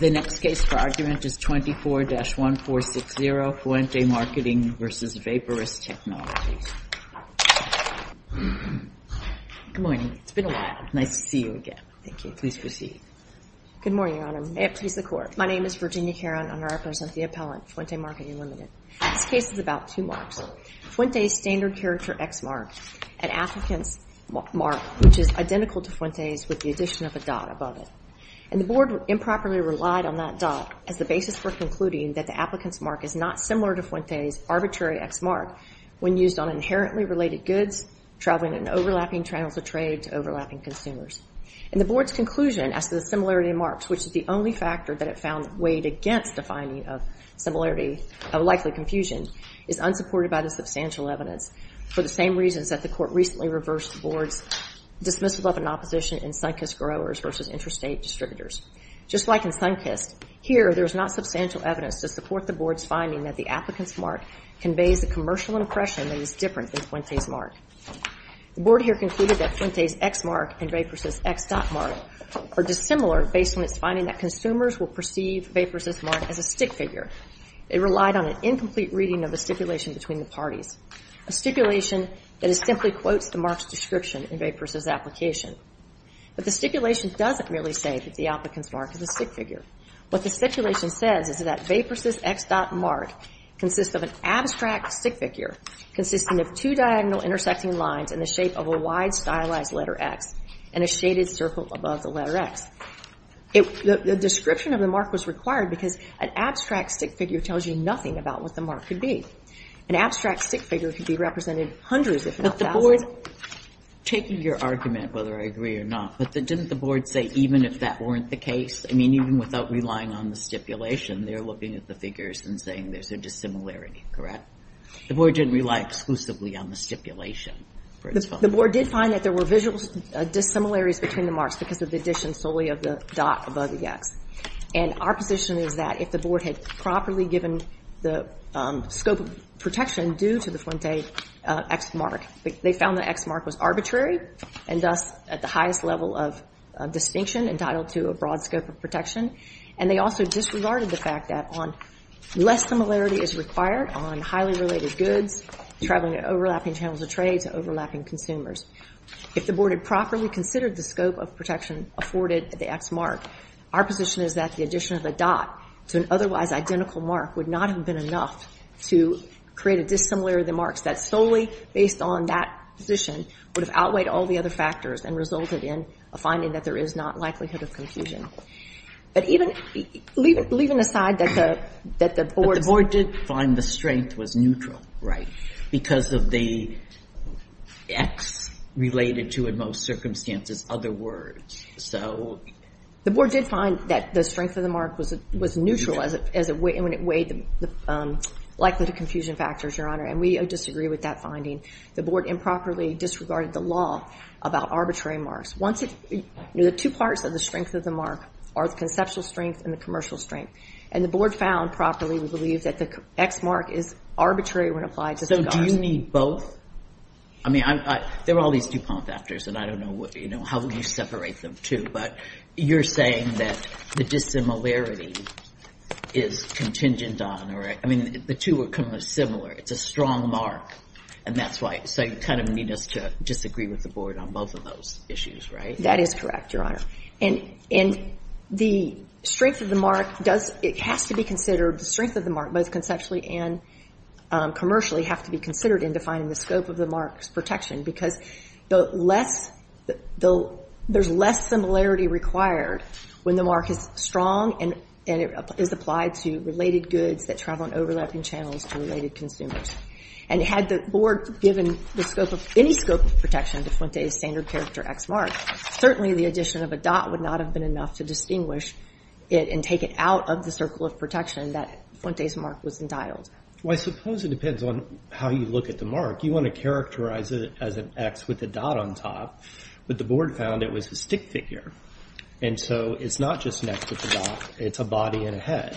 The next case for argument is 24-1460, Fuente Marketing v. Vaporous Technologies. Good morning. It's been a while. Nice to see you again. Thank you. Please proceed. Good morning, Your Honor. May it please the Court. My name is Virginia Caron. I represent the appellant, Fuente Marketing Ltd. This case is about two marks. Fuente's standard character X mark, an applicant's mark, which is identical to Fuente's with the addition of a dot above it. And the Board improperly relied on that dot as the basis for concluding that the applicant's mark is not similar to Fuente's arbitrary X mark when used on inherently related goods traveling in overlapping channels of trade to overlapping consumers. And the Board's conclusion as to the similarity of marks, which is the only factor that it found weighed against the finding of similarity of likely confusion, is unsupported by the substantial evidence for the same reasons that the Court recently reversed the Board's dismissal of an opposition in Sunkist Growers v. Interstate Distributors. Just like in Sunkist, here there is not substantial evidence to support the Board's finding that the applicant's mark conveys a commercial impression that is different than Fuente's mark. The Board here concluded that Fuente's X mark and Vaporous' X dot mark are dissimilar based on its finding that consumers will perceive Vaporous' mark as a stick figure. It relied on an incomplete reading of the stipulation between the parties, a stipulation that simply quotes the mark's description in Vaporous' application. But the stipulation doesn't merely say that the applicant's mark is a stick figure. What the stipulation says is that Vaporous' X dot mark consists of an abstract stick figure consisting of two diagonal intersecting lines in the shape of a wide stylized letter X and a shaded circle above the letter X. The description of the mark was required because an abstract stick figure tells you nothing about what the mark could be. An abstract stick figure could be represented hundreds if not thousands. But the Board, taking your argument whether I agree or not, but didn't the Board say even if that weren't the case, I mean, even without relying on the stipulation, they're looking at the figures and saying there's a dissimilarity, correct? The Board didn't rely exclusively on the stipulation for its findings. The Board did find that there were visual dissimilarities between the marks because of the addition solely of the dot above the X. And our position is that if the Board had properly given the scope of protection due to the Fuente X mark, they found the X mark was arbitrary and thus at the highest level of distinction entitled to a broad scope of protection. And they also disregarded the fact that on less similarity is required on highly related goods, traveling to overlapping channels of trade to overlapping consumers. If the Board had properly considered the scope of protection afforded at the X mark, our position is that the addition of the dot to an otherwise identical mark would not have been enough to create a dissimilarity of the marks that solely based on that position would have outweighed all the other factors and resulted in a finding that there is not likelihood of confusion. But even leaving aside that the Board's... The Board did find the strength was neutral, right? Because of the X related to, in most circumstances, other words. So... The Board did find that the strength of the mark was neutral when it weighed the likelihood of confusion factors, Your Honor. And we disagree with that finding. The Board improperly disregarded the law about arbitrary marks. Once it... You know, the two parts of the strength of the mark are the conceptual strength and the commercial strength. And the Board found properly, we believe, that the X mark is arbitrary when applied to... So do you need both? I mean, there are all these DuPont factors, and I don't know how you separate them, too. But you're saying that the dissimilarity is contingent on... I mean, the two are similar. It's a strong mark, and that's why... So you kind of need us to disagree with the Board on both of those issues, right? That is correct, Your Honor. And the strength of the mark does... It has to be considered, the strength of the mark, both conceptually and commercially, have to be considered in defining the scope of the mark's protection. Because there's less similarity required when the mark is strong and it is applied to related goods that travel in overlapping channels to related consumers. And had the Board given any scope of protection to Fuente's standard character X mark, certainly the addition of a dot would not have been enough to distinguish it and take it out of the circle of protection that Fuente's mark was entitled. Well, I suppose it depends on how you look at the mark. You want to characterize it as an X with a dot on top. But the Board found it was a stick figure. And so it's not just an X with a dot. It's a body and a head.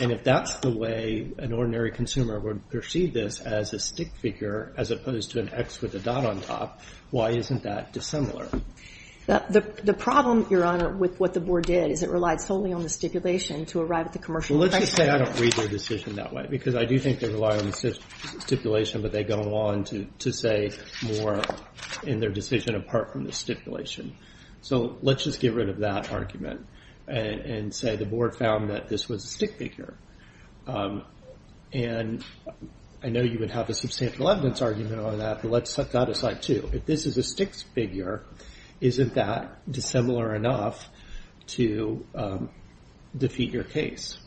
And if that's the way an ordinary consumer would perceive this, as a stick figure, as opposed to an X with a dot on top, why isn't that dissimilar? The problem, Your Honor, with what the Board did, is it relied solely on the stipulation to arrive at the commercial effect. Well, let's just say I don't read their decision that way. Because I do think they rely on the stipulation, but they go on to say more in their decision apart from the stipulation. So let's just get rid of that argument and say the Board found that this was a stick figure. And I know you would have a substantial evidence argument on that, but let's set that aside too. If this is a stick figure, isn't that dissimilar enough to defeat your case?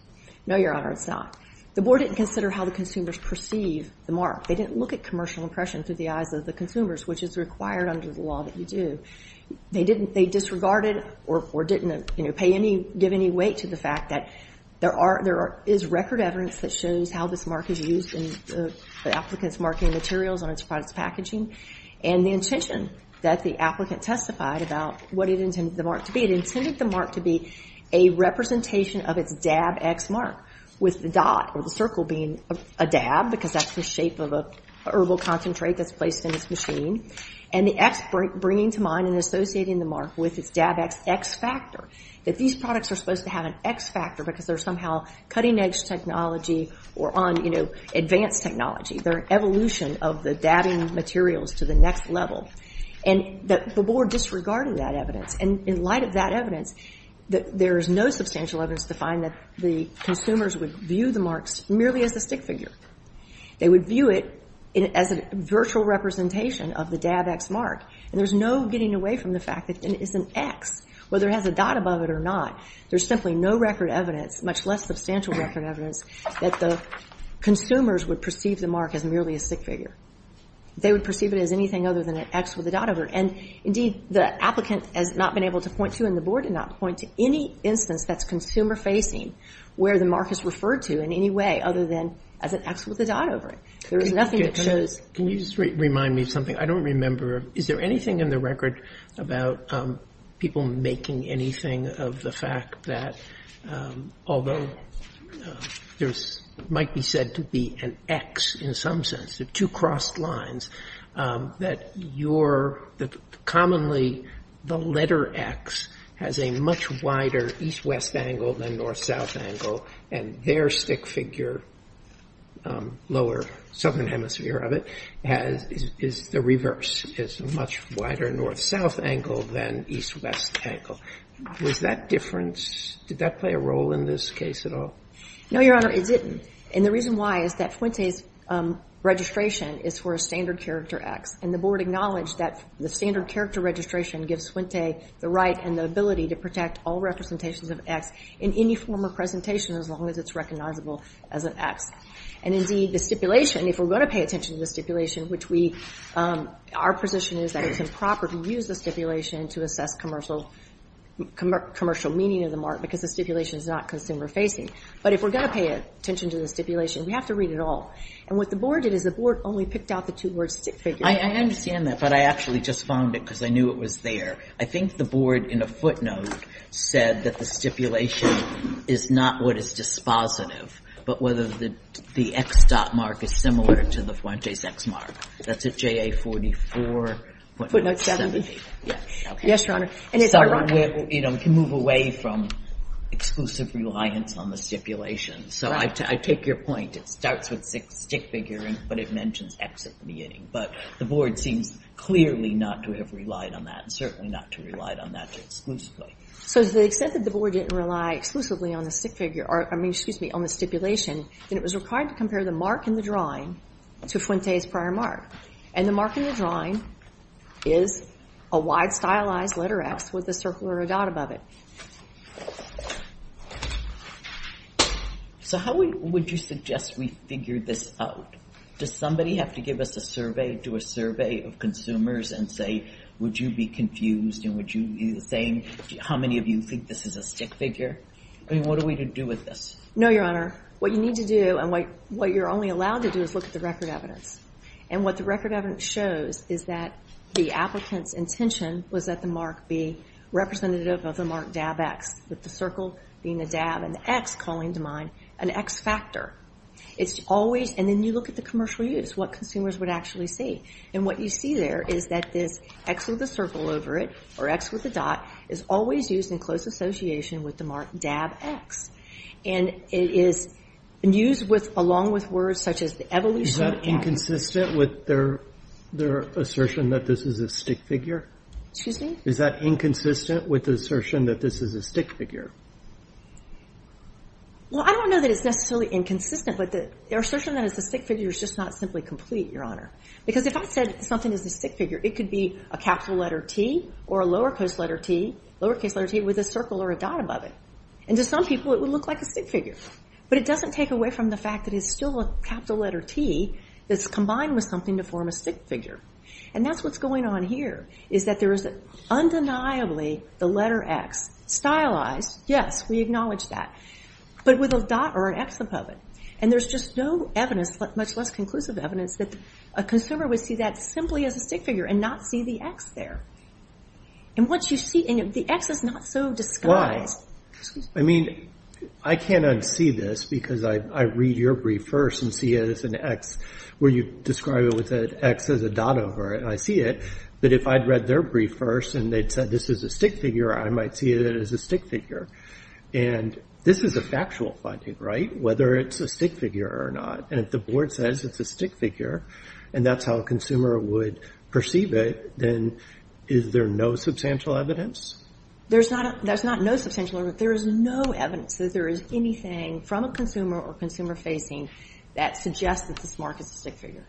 No, Your Honor, it's not. The Board didn't consider how the consumers perceive the mark. They didn't look at commercial impression through the eyes of the consumers, which is required under the law that you do. They disregarded or didn't give any weight to the fact that there is record evidence that shows how this mark is used in the applicant's marking materials on its product's packaging and the intention that the applicant testified about what it intended the mark to be. It intended the mark to be a representation of its dab X mark, with the dot or the circle being a dab, because that's the shape of a herbal concentrate that's placed in its machine. And the X bringing to mind and associating the mark with its dab X X factor, that these products are supposed to have an X factor because they're somehow cutting-edge technology or on, you know, advanced technology. They're an evolution of the dabbing materials to the next level. And the Board disregarded that evidence. And in light of that evidence, there is no substantial evidence to find that the consumers would view the marks merely as a stick figure. They would view it as a virtual representation of the dab X mark. And there's no getting away from the fact that it is an X, whether it has a dot above it or not. There's simply no record evidence, much less substantial record evidence, that the consumers would perceive the mark as merely a stick figure. They would perceive it as anything other than an X with a dot over it. And, indeed, the applicant has not been able to point to and the Board did not point to any instance that's consumer-facing where the mark is referred to in any way other than as an X with a dot over it. There is nothing that shows. Can you just remind me of something? I don't remember. Is there anything in the record about people making anything of the fact that, although there might be said to be an X in some sense, the two crossed lines, that you're commonly the letter X has a much wider east-west angle than north-south angle and their stick figure, lower southern hemisphere of it, is the reverse, is a much wider north-south angle than east-west angle. Was that different? Did that play a role in this case at all? No, Your Honor, it didn't. And the reason why is that Fuente's registration is for a standard character X. And the Board acknowledged that the standard character registration gives Fuente the right and the ability to protect all representations of X in any form of presentation as long as it's recognizable as an X. And, indeed, the stipulation, if we're going to pay attention to the stipulation, our position is that it's improper to use the stipulation to assess commercial meaning of the mark because the stipulation is not consumer-facing. But if we're going to pay attention to the stipulation, we have to read it all. And what the Board did is the Board only picked out the two-word stick figure. I understand that, but I actually just found it because I knew it was there. I think the Board, in a footnote, said that the stipulation is not what is dispositive, but whether the X dot mark is similar to the Fuente's X mark. That's at JA44. Footnote 70. Yes, Your Honor. So we can move away from exclusive reliance on the stipulation. So I take your point. It starts with stick figure, but it mentions X at the beginning. But the Board seems clearly not to have relied on that, and certainly not to have relied on that exclusively. So to the extent that the Board didn't rely exclusively on the stipulation, then it was required to compare the mark in the drawing to Fuente's prior mark. And the mark in the drawing is a wide, stylized letter X with a circle or a dot above it. So how would you suggest we figure this out? Does somebody have to give us a survey, do a survey of consumers and say, would you be confused and would you be the same? How many of you think this is a stick figure? I mean, what are we to do with this? No, Your Honor. What you need to do and what you're only allowed to do is look at the record evidence. And what the record evidence shows is that the applicant's intention was that the mark be representative of the mark DABX, with the circle being a DAB and the X calling to mind an X factor. And then you look at the commercial use, what consumers would actually see. And what you see there is that this X with a circle over it, or X with a dot, is always used in close association with the mark DABX. And it is used along with words such as evolution. Is that inconsistent with their assertion that this is a stick figure? Excuse me? Is that inconsistent with the assertion that this is a stick figure? Well, I don't know that it's necessarily inconsistent, but the assertion that it's a stick figure is just not simply complete, Your Honor. Because if I said something is a stick figure, it could be a capital letter T or a lowercase letter T with a circle or a dot above it. And to some people it would look like a stick figure. But it doesn't take away from the fact that it's still a capital letter T that's combined with something to form a stick figure. And that's what's going on here, is that there is undeniably the letter X stylized. Yes, we acknowledge that. But with a dot or an X above it. And there's just no evidence, much less conclusive evidence, that a consumer would see that simply as a stick figure and not see the X there. And the X is not so disguised. I mean, I can't unsee this because I read your brief first and see it as an X where you describe it with an X as a dot over it and I see it. But if I'd read their brief first and they'd said this is a stick figure, I might see it as a stick figure. And this is a factual finding, right? Whether it's a stick figure or not. And if the board says it's a stick figure and that's how a consumer would perceive it, then is there no substantial evidence? There's not no substantial evidence. There is no evidence that there is anything from a consumer or consumer facing that suggests that this mark is a stick figure.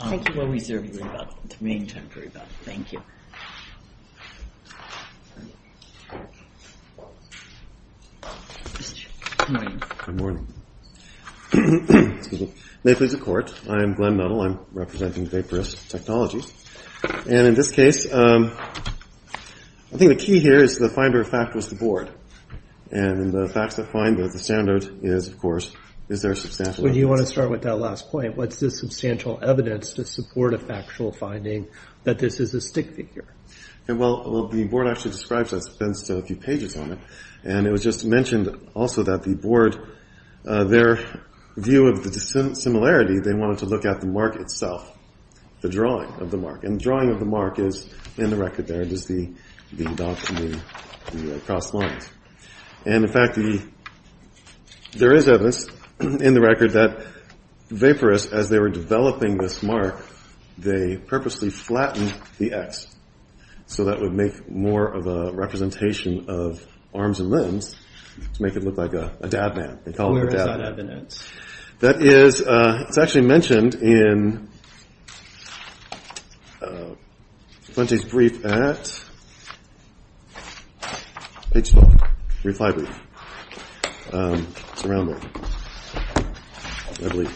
Thank you. We'll reserve the remaining time for rebuttal. Thank you. Good morning. Good morning. May it please the Court. I am Glenn Nuttall. I'm representing Vaporist Technologies. And in this case, I think the key here is the finder of fact was the board. And the facts that find that the standard is, of course, is there substantial evidence? Well, you want to start with that last point. What's the substantial evidence to support a factual finding that this is a stick figure? Well, the board actually describes that. It spends a few pages on it. And it was just mentioned also that the board, their view of the similarity, they wanted to look at the mark itself, the drawing of the mark. And the drawing of the mark is in the record there. It is the dots and the cross lines. And, in fact, there is evidence in the record that Vaporist, as they were developing this mark, they purposely flattened the X. So that would make more of a representation of arms and limbs to make it look like a dab man. They called it a dab man. Where is that evidence? That is, it's actually mentioned in Flinty's brief at H-12, brief library. It's around there. I believe.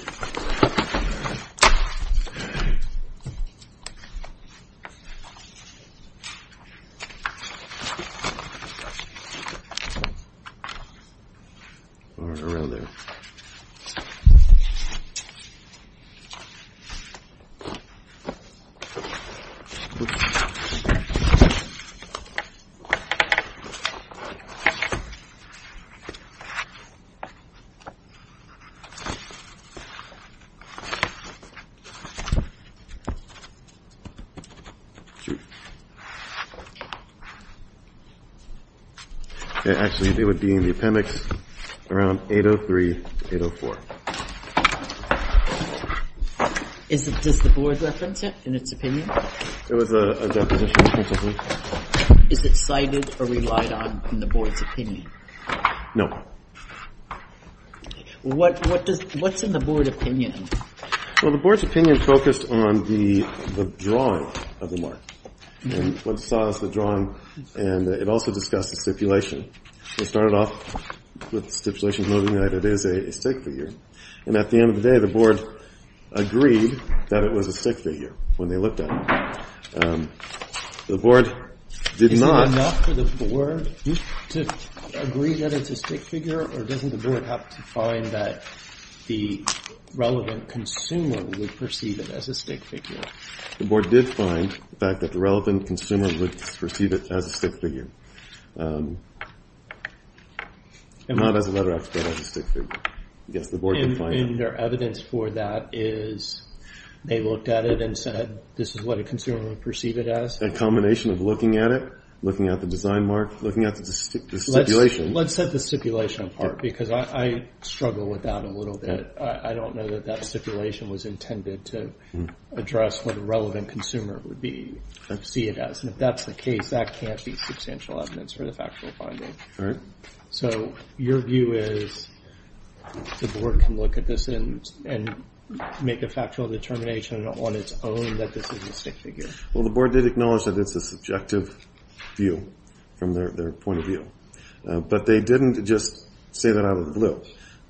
All right. Around there. All right. Does the board reference it in its opinion? It was a deposition. Is it cited or relied on in the board's opinion? No. What's in the board opinion? Well, the board's opinion focused on the drawing of the mark and what saw as the drawing. And it also discussed the stipulation. It started off with stipulations noting that it is a stick figure. And at the end of the day, the board agreed that it was a stick figure when they looked at it. The board did not. Is that enough for the board to agree that it's a stick figure? Or doesn't the board have to find that the relevant consumer would perceive it as a stick figure? The board did find, in fact, that the relevant consumer would perceive it as a stick figure. And not as a letter expert, as a stick figure. And their evidence for that is they looked at it and said this is what a consumer would perceive it as? A combination of looking at it, looking at the design mark, looking at the stipulation. Let's set the stipulation apart because I struggle with that a little bit. I don't know that that stipulation was intended to address what a relevant consumer would see it as. And if that's the case, that can't be substantial evidence for the factual finding. All right. So your view is the board can look at this and make a factual determination on its own that this is a stick figure? Well, the board did acknowledge that it's a subjective view from their point of view. But they didn't just say that out of the blue.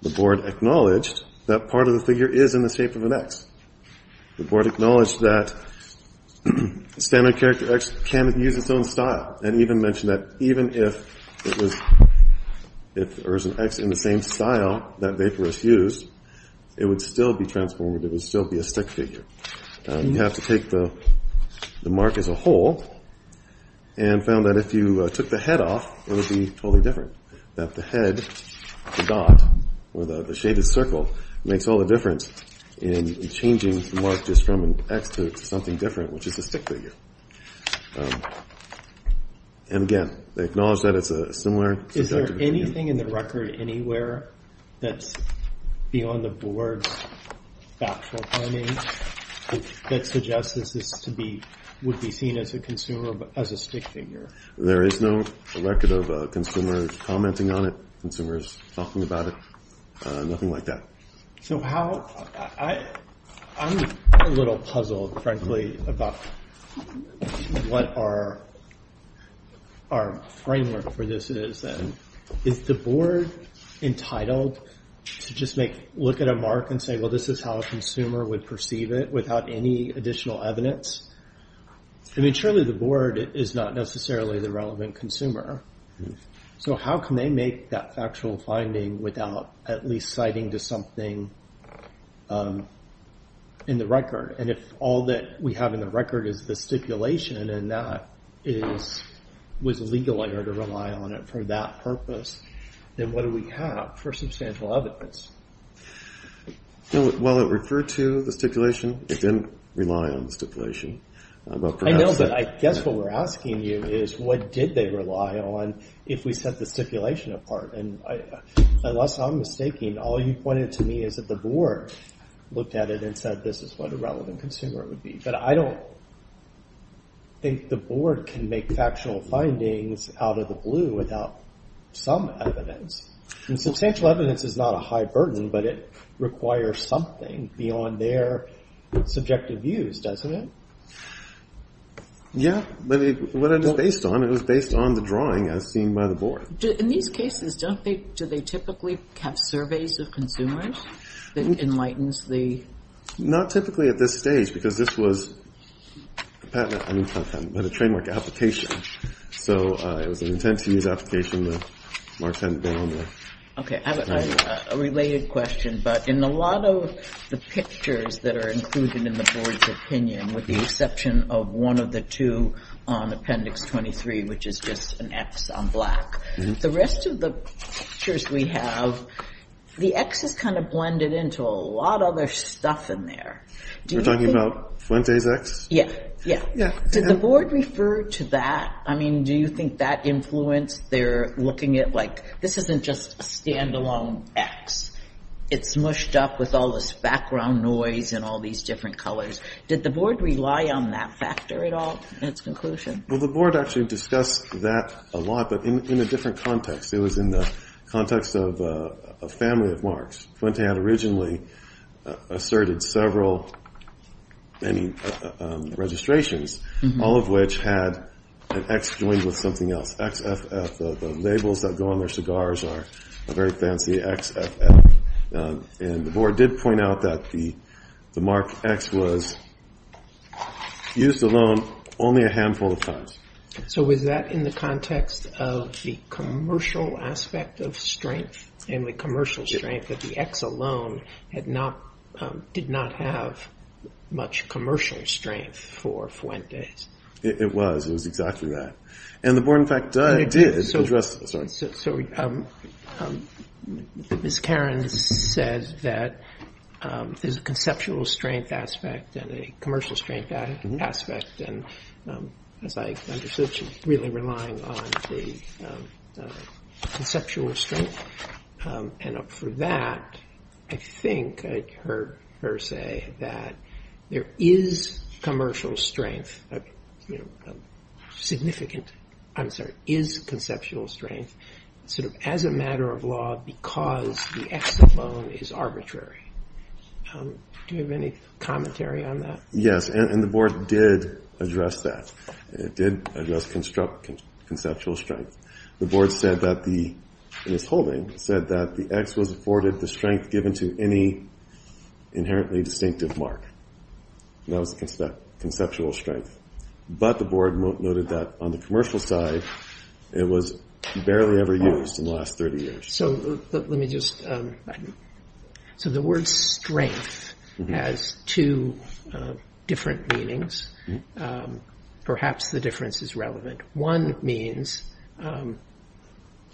The board acknowledged that part of the figure is in the shape of an X. The board acknowledged that standard character X can use its own style. And even mentioned that even if there was an X in the same style that vaporous used, it would still be transformative. It would still be a stick figure. You have to take the mark as a whole and found that if you took the head off, it would be totally different. That the head, the dot, or the shaded circle, makes all the difference in changing the mark just from an X to something different, which is a stick figure. And again, they acknowledge that it's a similar subjective view. Is there anything in the record anywhere that's beyond the board's factual finding that suggests this would be seen as a stick figure? There is no record of consumers commenting on it, consumers talking about it. Nothing like that. I'm a little puzzled, frankly, about what our framework for this is. Is the board entitled to just look at a mark and say, well, this is how a consumer would perceive it without any additional evidence? I mean, surely the board is not necessarily the relevant consumer. So how can they make that factual finding without at least citing to something in the record? And if all that we have in the record is the stipulation, and that was a legal error to rely on it for that purpose, then what do we have for substantial evidence? Well, it referred to the stipulation. It didn't rely on the stipulation. I know, but I guess what we're asking you is what did they rely on if we set the stipulation apart? And unless I'm mistaking, all you pointed to me is that the board looked at it and said this is what a relevant consumer would be. But I don't think the board can make factual findings out of the blue without some evidence. Substantial evidence is not a high burden, but it requires something beyond their subjective views, doesn't it? Yeah, but what it is based on, it was based on the drawing as seen by the board. In these cases, do they typically have surveys of consumers that enlightens the- Not typically at this stage, because this was a framework application. So it was an intent-to-use application. Okay, I have a related question. But in a lot of the pictures that are included in the board's opinion, with the exception of one of the two on Appendix 23, which is just an X on black, the rest of the pictures we have, the X is kind of blended into a lot of other stuff in there. You're talking about Fuente's X? Yeah. Did the board refer to that? I mean, do you think that influenced their looking at, like, this isn't just a standalone X. It's mushed up with all this background noise and all these different colors. Did the board rely on that factor at all in its conclusion? Well, the board actually discussed that a lot, but in a different context. It was in the context of a family of marks. Fuente had originally asserted several registrations, all of which had an X joined with something else, XFF. The labels that go on their cigars are a very fancy XFF. And the board did point out that the mark X was used alone only a handful of times. So was that in the context of the commercial aspect of strength and the commercial strength, that the X alone did not have much commercial strength for Fuente? It was. It was exactly that. And the board, in fact, did address that. So Ms. Karen says that there's a conceptual strength aspect and a commercial strength aspect. And as I understood, she's really relying on the conceptual strength. And for that, I think I heard her say that there is commercial strength, a significant, I'm sorry, is conceptual strength sort of as a matter of law because the X alone is arbitrary. Do you have any commentary on that? Yes, and the board did address that. It did address conceptual strength. The board said that the, in its holding, said that the X was afforded the strength given to any inherently distinctive mark. That was conceptual strength. But the board noted that on the commercial side, it was barely ever used in the last 30 years. So let me just, so the word strength has two different meanings. Perhaps the difference is relevant. One means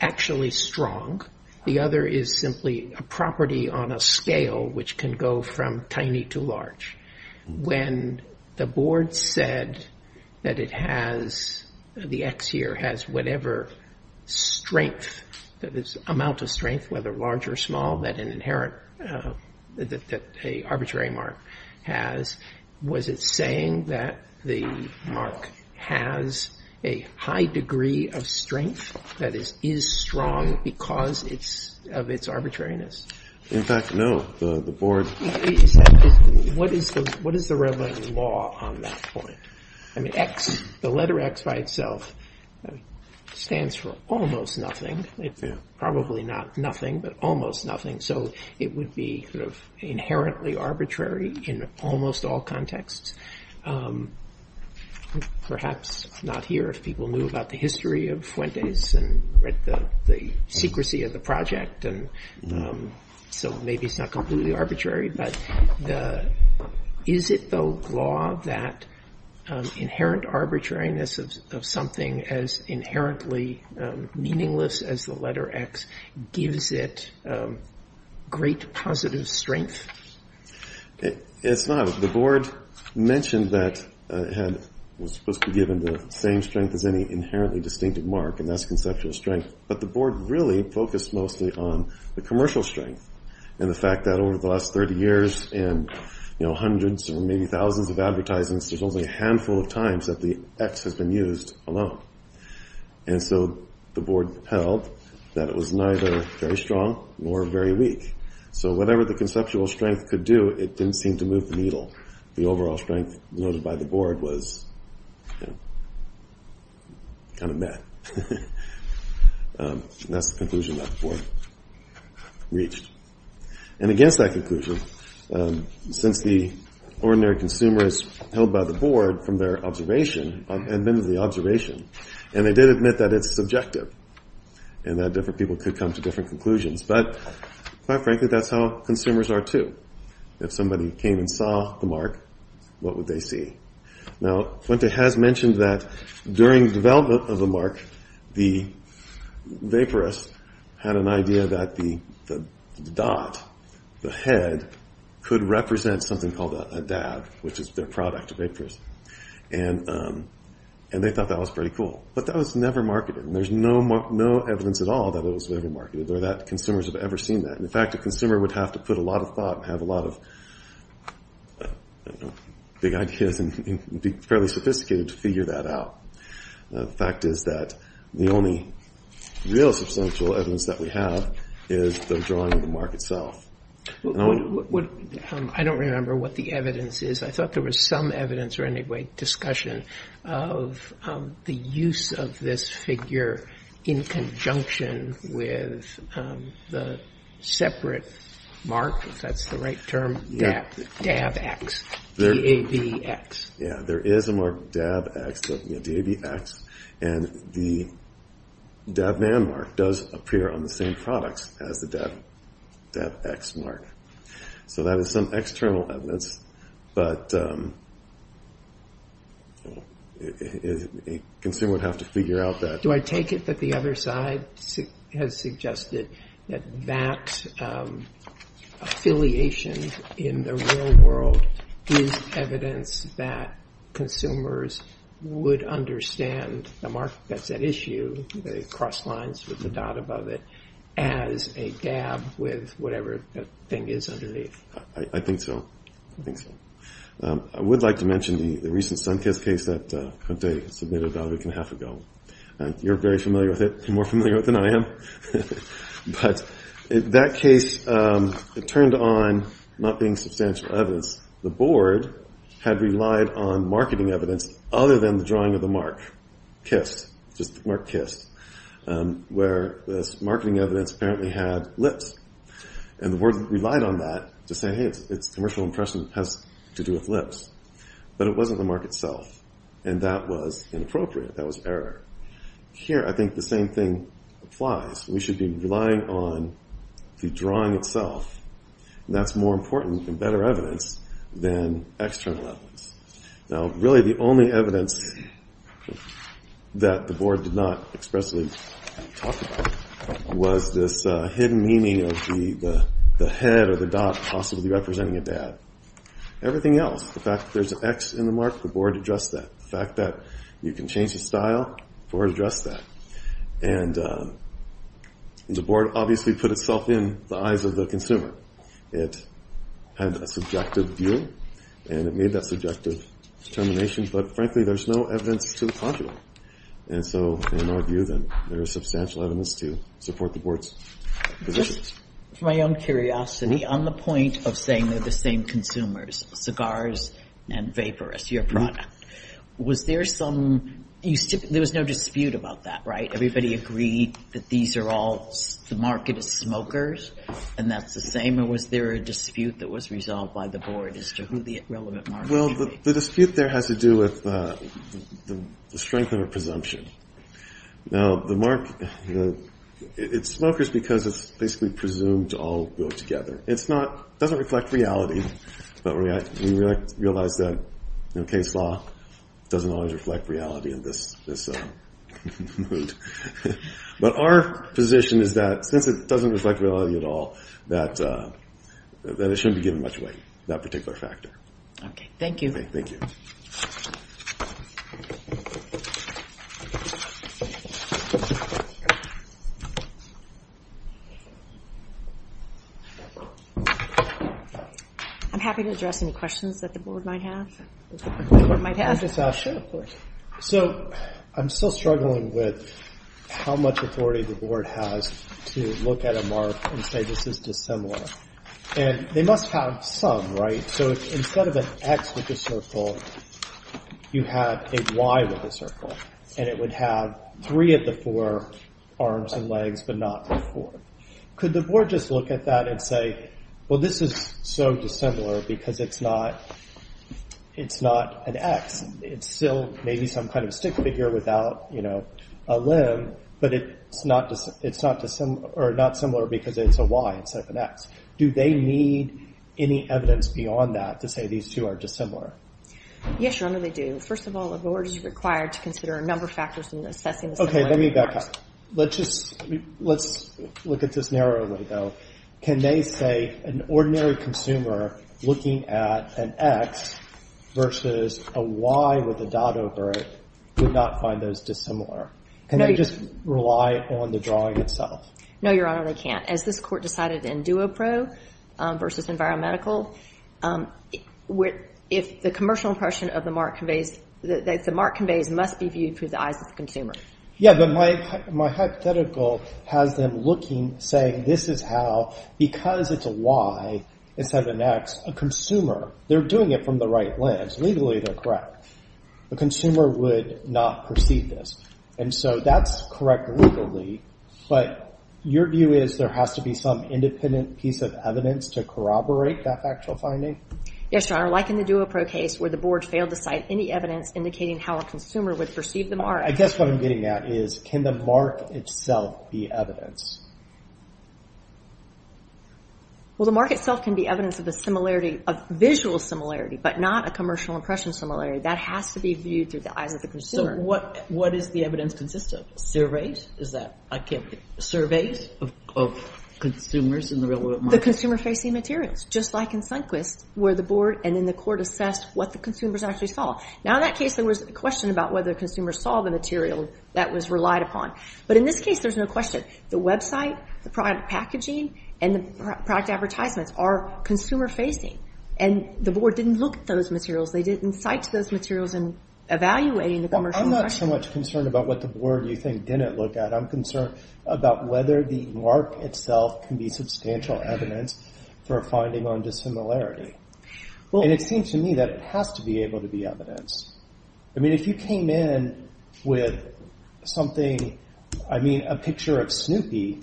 actually strong. The other is simply a property on a scale which can go from tiny to large. When the board said that it has, the X here has whatever strength, that this amount of strength, whether large or small, that an inherent, that a arbitrary mark has, was it saying that the mark has a high degree of strength? That is, is strong because of its arbitrariness? In fact, no. What is the relevant law on that point? I mean, X, the letter X by itself, stands for almost nothing. It's probably not nothing, but almost nothing. So it would be inherently arbitrary in almost all contexts. Perhaps not here if people knew about the history of Fuentes and the secrecy of the project. So maybe it's not completely arbitrary. But is it, though, law that inherent arbitrariness of something as inherently meaningless as the letter X gives it great positive strength? It's not. The board mentioned that it was supposed to be given the same strength as any inherently distinctive mark, and that's conceptual strength. But the board really focused mostly on the commercial strength and the fact that over the last 30 years and hundreds or maybe thousands of advertisements, there's only a handful of times that the X has been used alone. And so the board held that it was neither very strong nor very weak. So whatever the conceptual strength could do, it didn't seem to move the needle. The overall strength noted by the board was kind of meh. And that's the conclusion that the board reached. And against that conclusion, since the ordinary consumers held by the board from their observation, and admitted the observation, and they did admit that it's subjective and that different people could come to different conclusions, but quite frankly, that's how consumers are too. If somebody came and saw the mark, what would they see? Now, Fuente has mentioned that during the development of the mark, the vaporist had an idea that the dot, the head, could represent something called a dab, which is their product, a vaporist. And they thought that was pretty cool. But that was never marketed, and there's no evidence at all that it was ever marketed or that consumers have ever seen that. In fact, a consumer would have to put a lot of thought and have a lot of big ideas and be fairly sophisticated to figure that out. The fact is that the only real substantial evidence that we have is the drawing of the mark itself. I don't remember what the evidence is. I thought there was some evidence or anyway discussion of the use of this figure in conjunction with the separate mark, if that's the right term, dab X, D-A-B-X. Yeah, there is a mark dab X, D-A-B-X, and the dab man mark does appear on the same products as the dab X mark. So that is some external evidence, but a consumer would have to figure out that. Do I take it that the other side has suggested that that affiliation in the real world is evidence that consumers would understand the mark that's at issue, the cross lines with the dot above it, as a dab with whatever the thing is underneath? I think so. I would like to mention the recent SunKiss case that Conte submitted about a week and a half ago. You're very familiar with it, more familiar with it than I am. But that case, it turned on not being substantial evidence. The board had relied on marketing evidence other than the drawing of the mark, Kiss, just the mark Kiss, where the marketing evidence apparently had lips. And the board relied on that to say, hey, its commercial impression has to do with lips. But it wasn't the mark itself, and that was inappropriate, that was error. Here, I think the same thing applies. We should be relying on the drawing itself, and that's more important and better evidence than external evidence. Now, really the only evidence that the board did not expressly talk about was this hidden meaning of the head or the dot possibly representing a dab. Everything else, the fact that there's an X in the mark, the board addressed that. The fact that you can change the style, the board addressed that. And the board obviously put itself in the eyes of the consumer. It had a subjective view, and it made that subjective determination. But frankly, there's no evidence to the contrary. And so in our view, then, there is substantial evidence to support the board's positions. Just for my own curiosity, on the point of saying they're the same consumers, cigars and vapor as your product, was there some, there was no dispute about that, right? Everybody agreed that these are all, the market is smokers, and that's the same, or was there a dispute that was resolved by the board as to who the relevant market would be? Well, the dispute there has to do with the strength of a presumption. Now, the mark, it's smokers because it's basically presumed to all go together. It's not, it doesn't reflect reality, but we realize that case law doesn't always reflect reality in this mood. But our position is that since it doesn't reflect reality at all, that it shouldn't be given much weight, that particular factor. Okay, thank you. Okay, thank you. I'm happy to address any questions that the board might have. So, I'm still struggling with how much authority the board has to look at a mark and say this is dissimilar. And they must have some, right? So, instead of an X with a circle, you have a Y with a circle. And it would have three of the four arms and legs, but not the four. Could the board just look at that and say, well, this is so dissimilar because it's not an X. It's still maybe some kind of stick figure without a limb, but it's not dissimilar because it's a Y instead of an X. Do they need any evidence beyond that to say these two are dissimilar? Yes, your honor, they do. First of all, the board is required to consider a number of factors in assessing the similarity. Okay, let me back up. Let's just, let's look at this narrowly, though. Can they say an ordinary consumer looking at an X versus a Y with a dot over it would not find those dissimilar? Can they just rely on the drawing itself? No, your honor, they can't. As this court decided in Duopro versus Environmental, if the commercial impression of the mark conveys, that the mark conveys must be viewed through the eyes of the consumer. Yeah, but my hypothetical has them looking, saying this is how, because it's a Y instead of an X, a consumer, they're doing it from the right lens. Legally, they're correct. A consumer would not perceive this, and so that's correct legally, but your view is there has to be some independent piece of evidence to corroborate that factual finding? Yes, your honor, like in the Duopro case where the board failed to cite any evidence indicating how a consumer would perceive the mark. I guess what I'm getting at is can the mark itself be evidence? Well, the mark itself can be evidence of a similarity, a visual similarity, but not a commercial impression similarity. That has to be viewed through the eyes of the consumer. So what does the evidence consist of? Surveys? Is that, I can't, surveys of consumers in the real world market? The consumer facing materials, just like in Sundquist where the board and then the court assessed what the consumers actually saw. Now in that case, there was a question about whether consumers saw the material that was relied upon, but in this case, there's no question. The website, the product packaging, and the product advertisements are consumer facing, and the board didn't look at those materials. They didn't cite those materials in evaluating the commercial impression. I'm not so much concerned about what the board, you think, didn't look at. I'm concerned about whether the mark itself can be substantial evidence for a finding on dissimilarity, and it seems to me that it has to be able to be evidence. I mean, if you came in with something, I mean, a picture of Snoopy,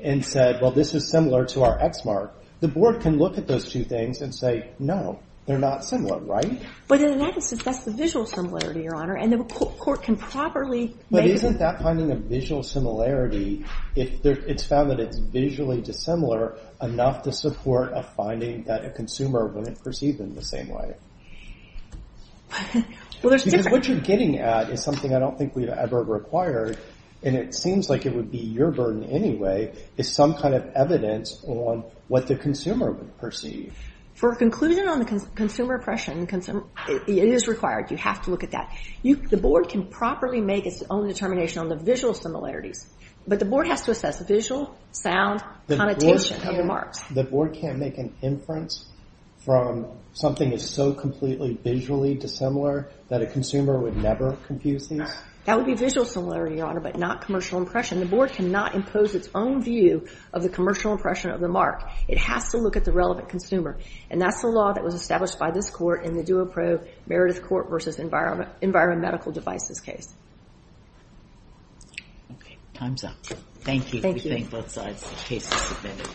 and said, well, this is similar to our X mark, the board can look at those two things and say, no, they're not similar, right? But in that instance, that's the visual similarity, Your Honor, and the court can probably make it. But isn't that finding a visual similarity if it's found that it's visually dissimilar enough to support a finding that a consumer wouldn't perceive them the same way? Because what you're getting at is something I don't think we've ever required, and it seems like it would be your burden anyway is some kind of evidence on what the consumer would perceive. For a conclusion on the consumer impression, it is required. You have to look at that. The board can properly make its own determination on the visual similarities, but the board has to assess visual, sound, connotation, and marks. The board can't make an inference from something that's so completely visually dissimilar that a consumer would never confuse these? That would be visual similarity, Your Honor, but not commercial impression. The board cannot impose its own view of the commercial impression of the mark. It has to look at the relevant consumer, and that's the law that was established by this court in the Duopro Meredith Court versus Environment Medical Devices case. Okay, time's up. Thank you. We thank both sides. The case is submitted.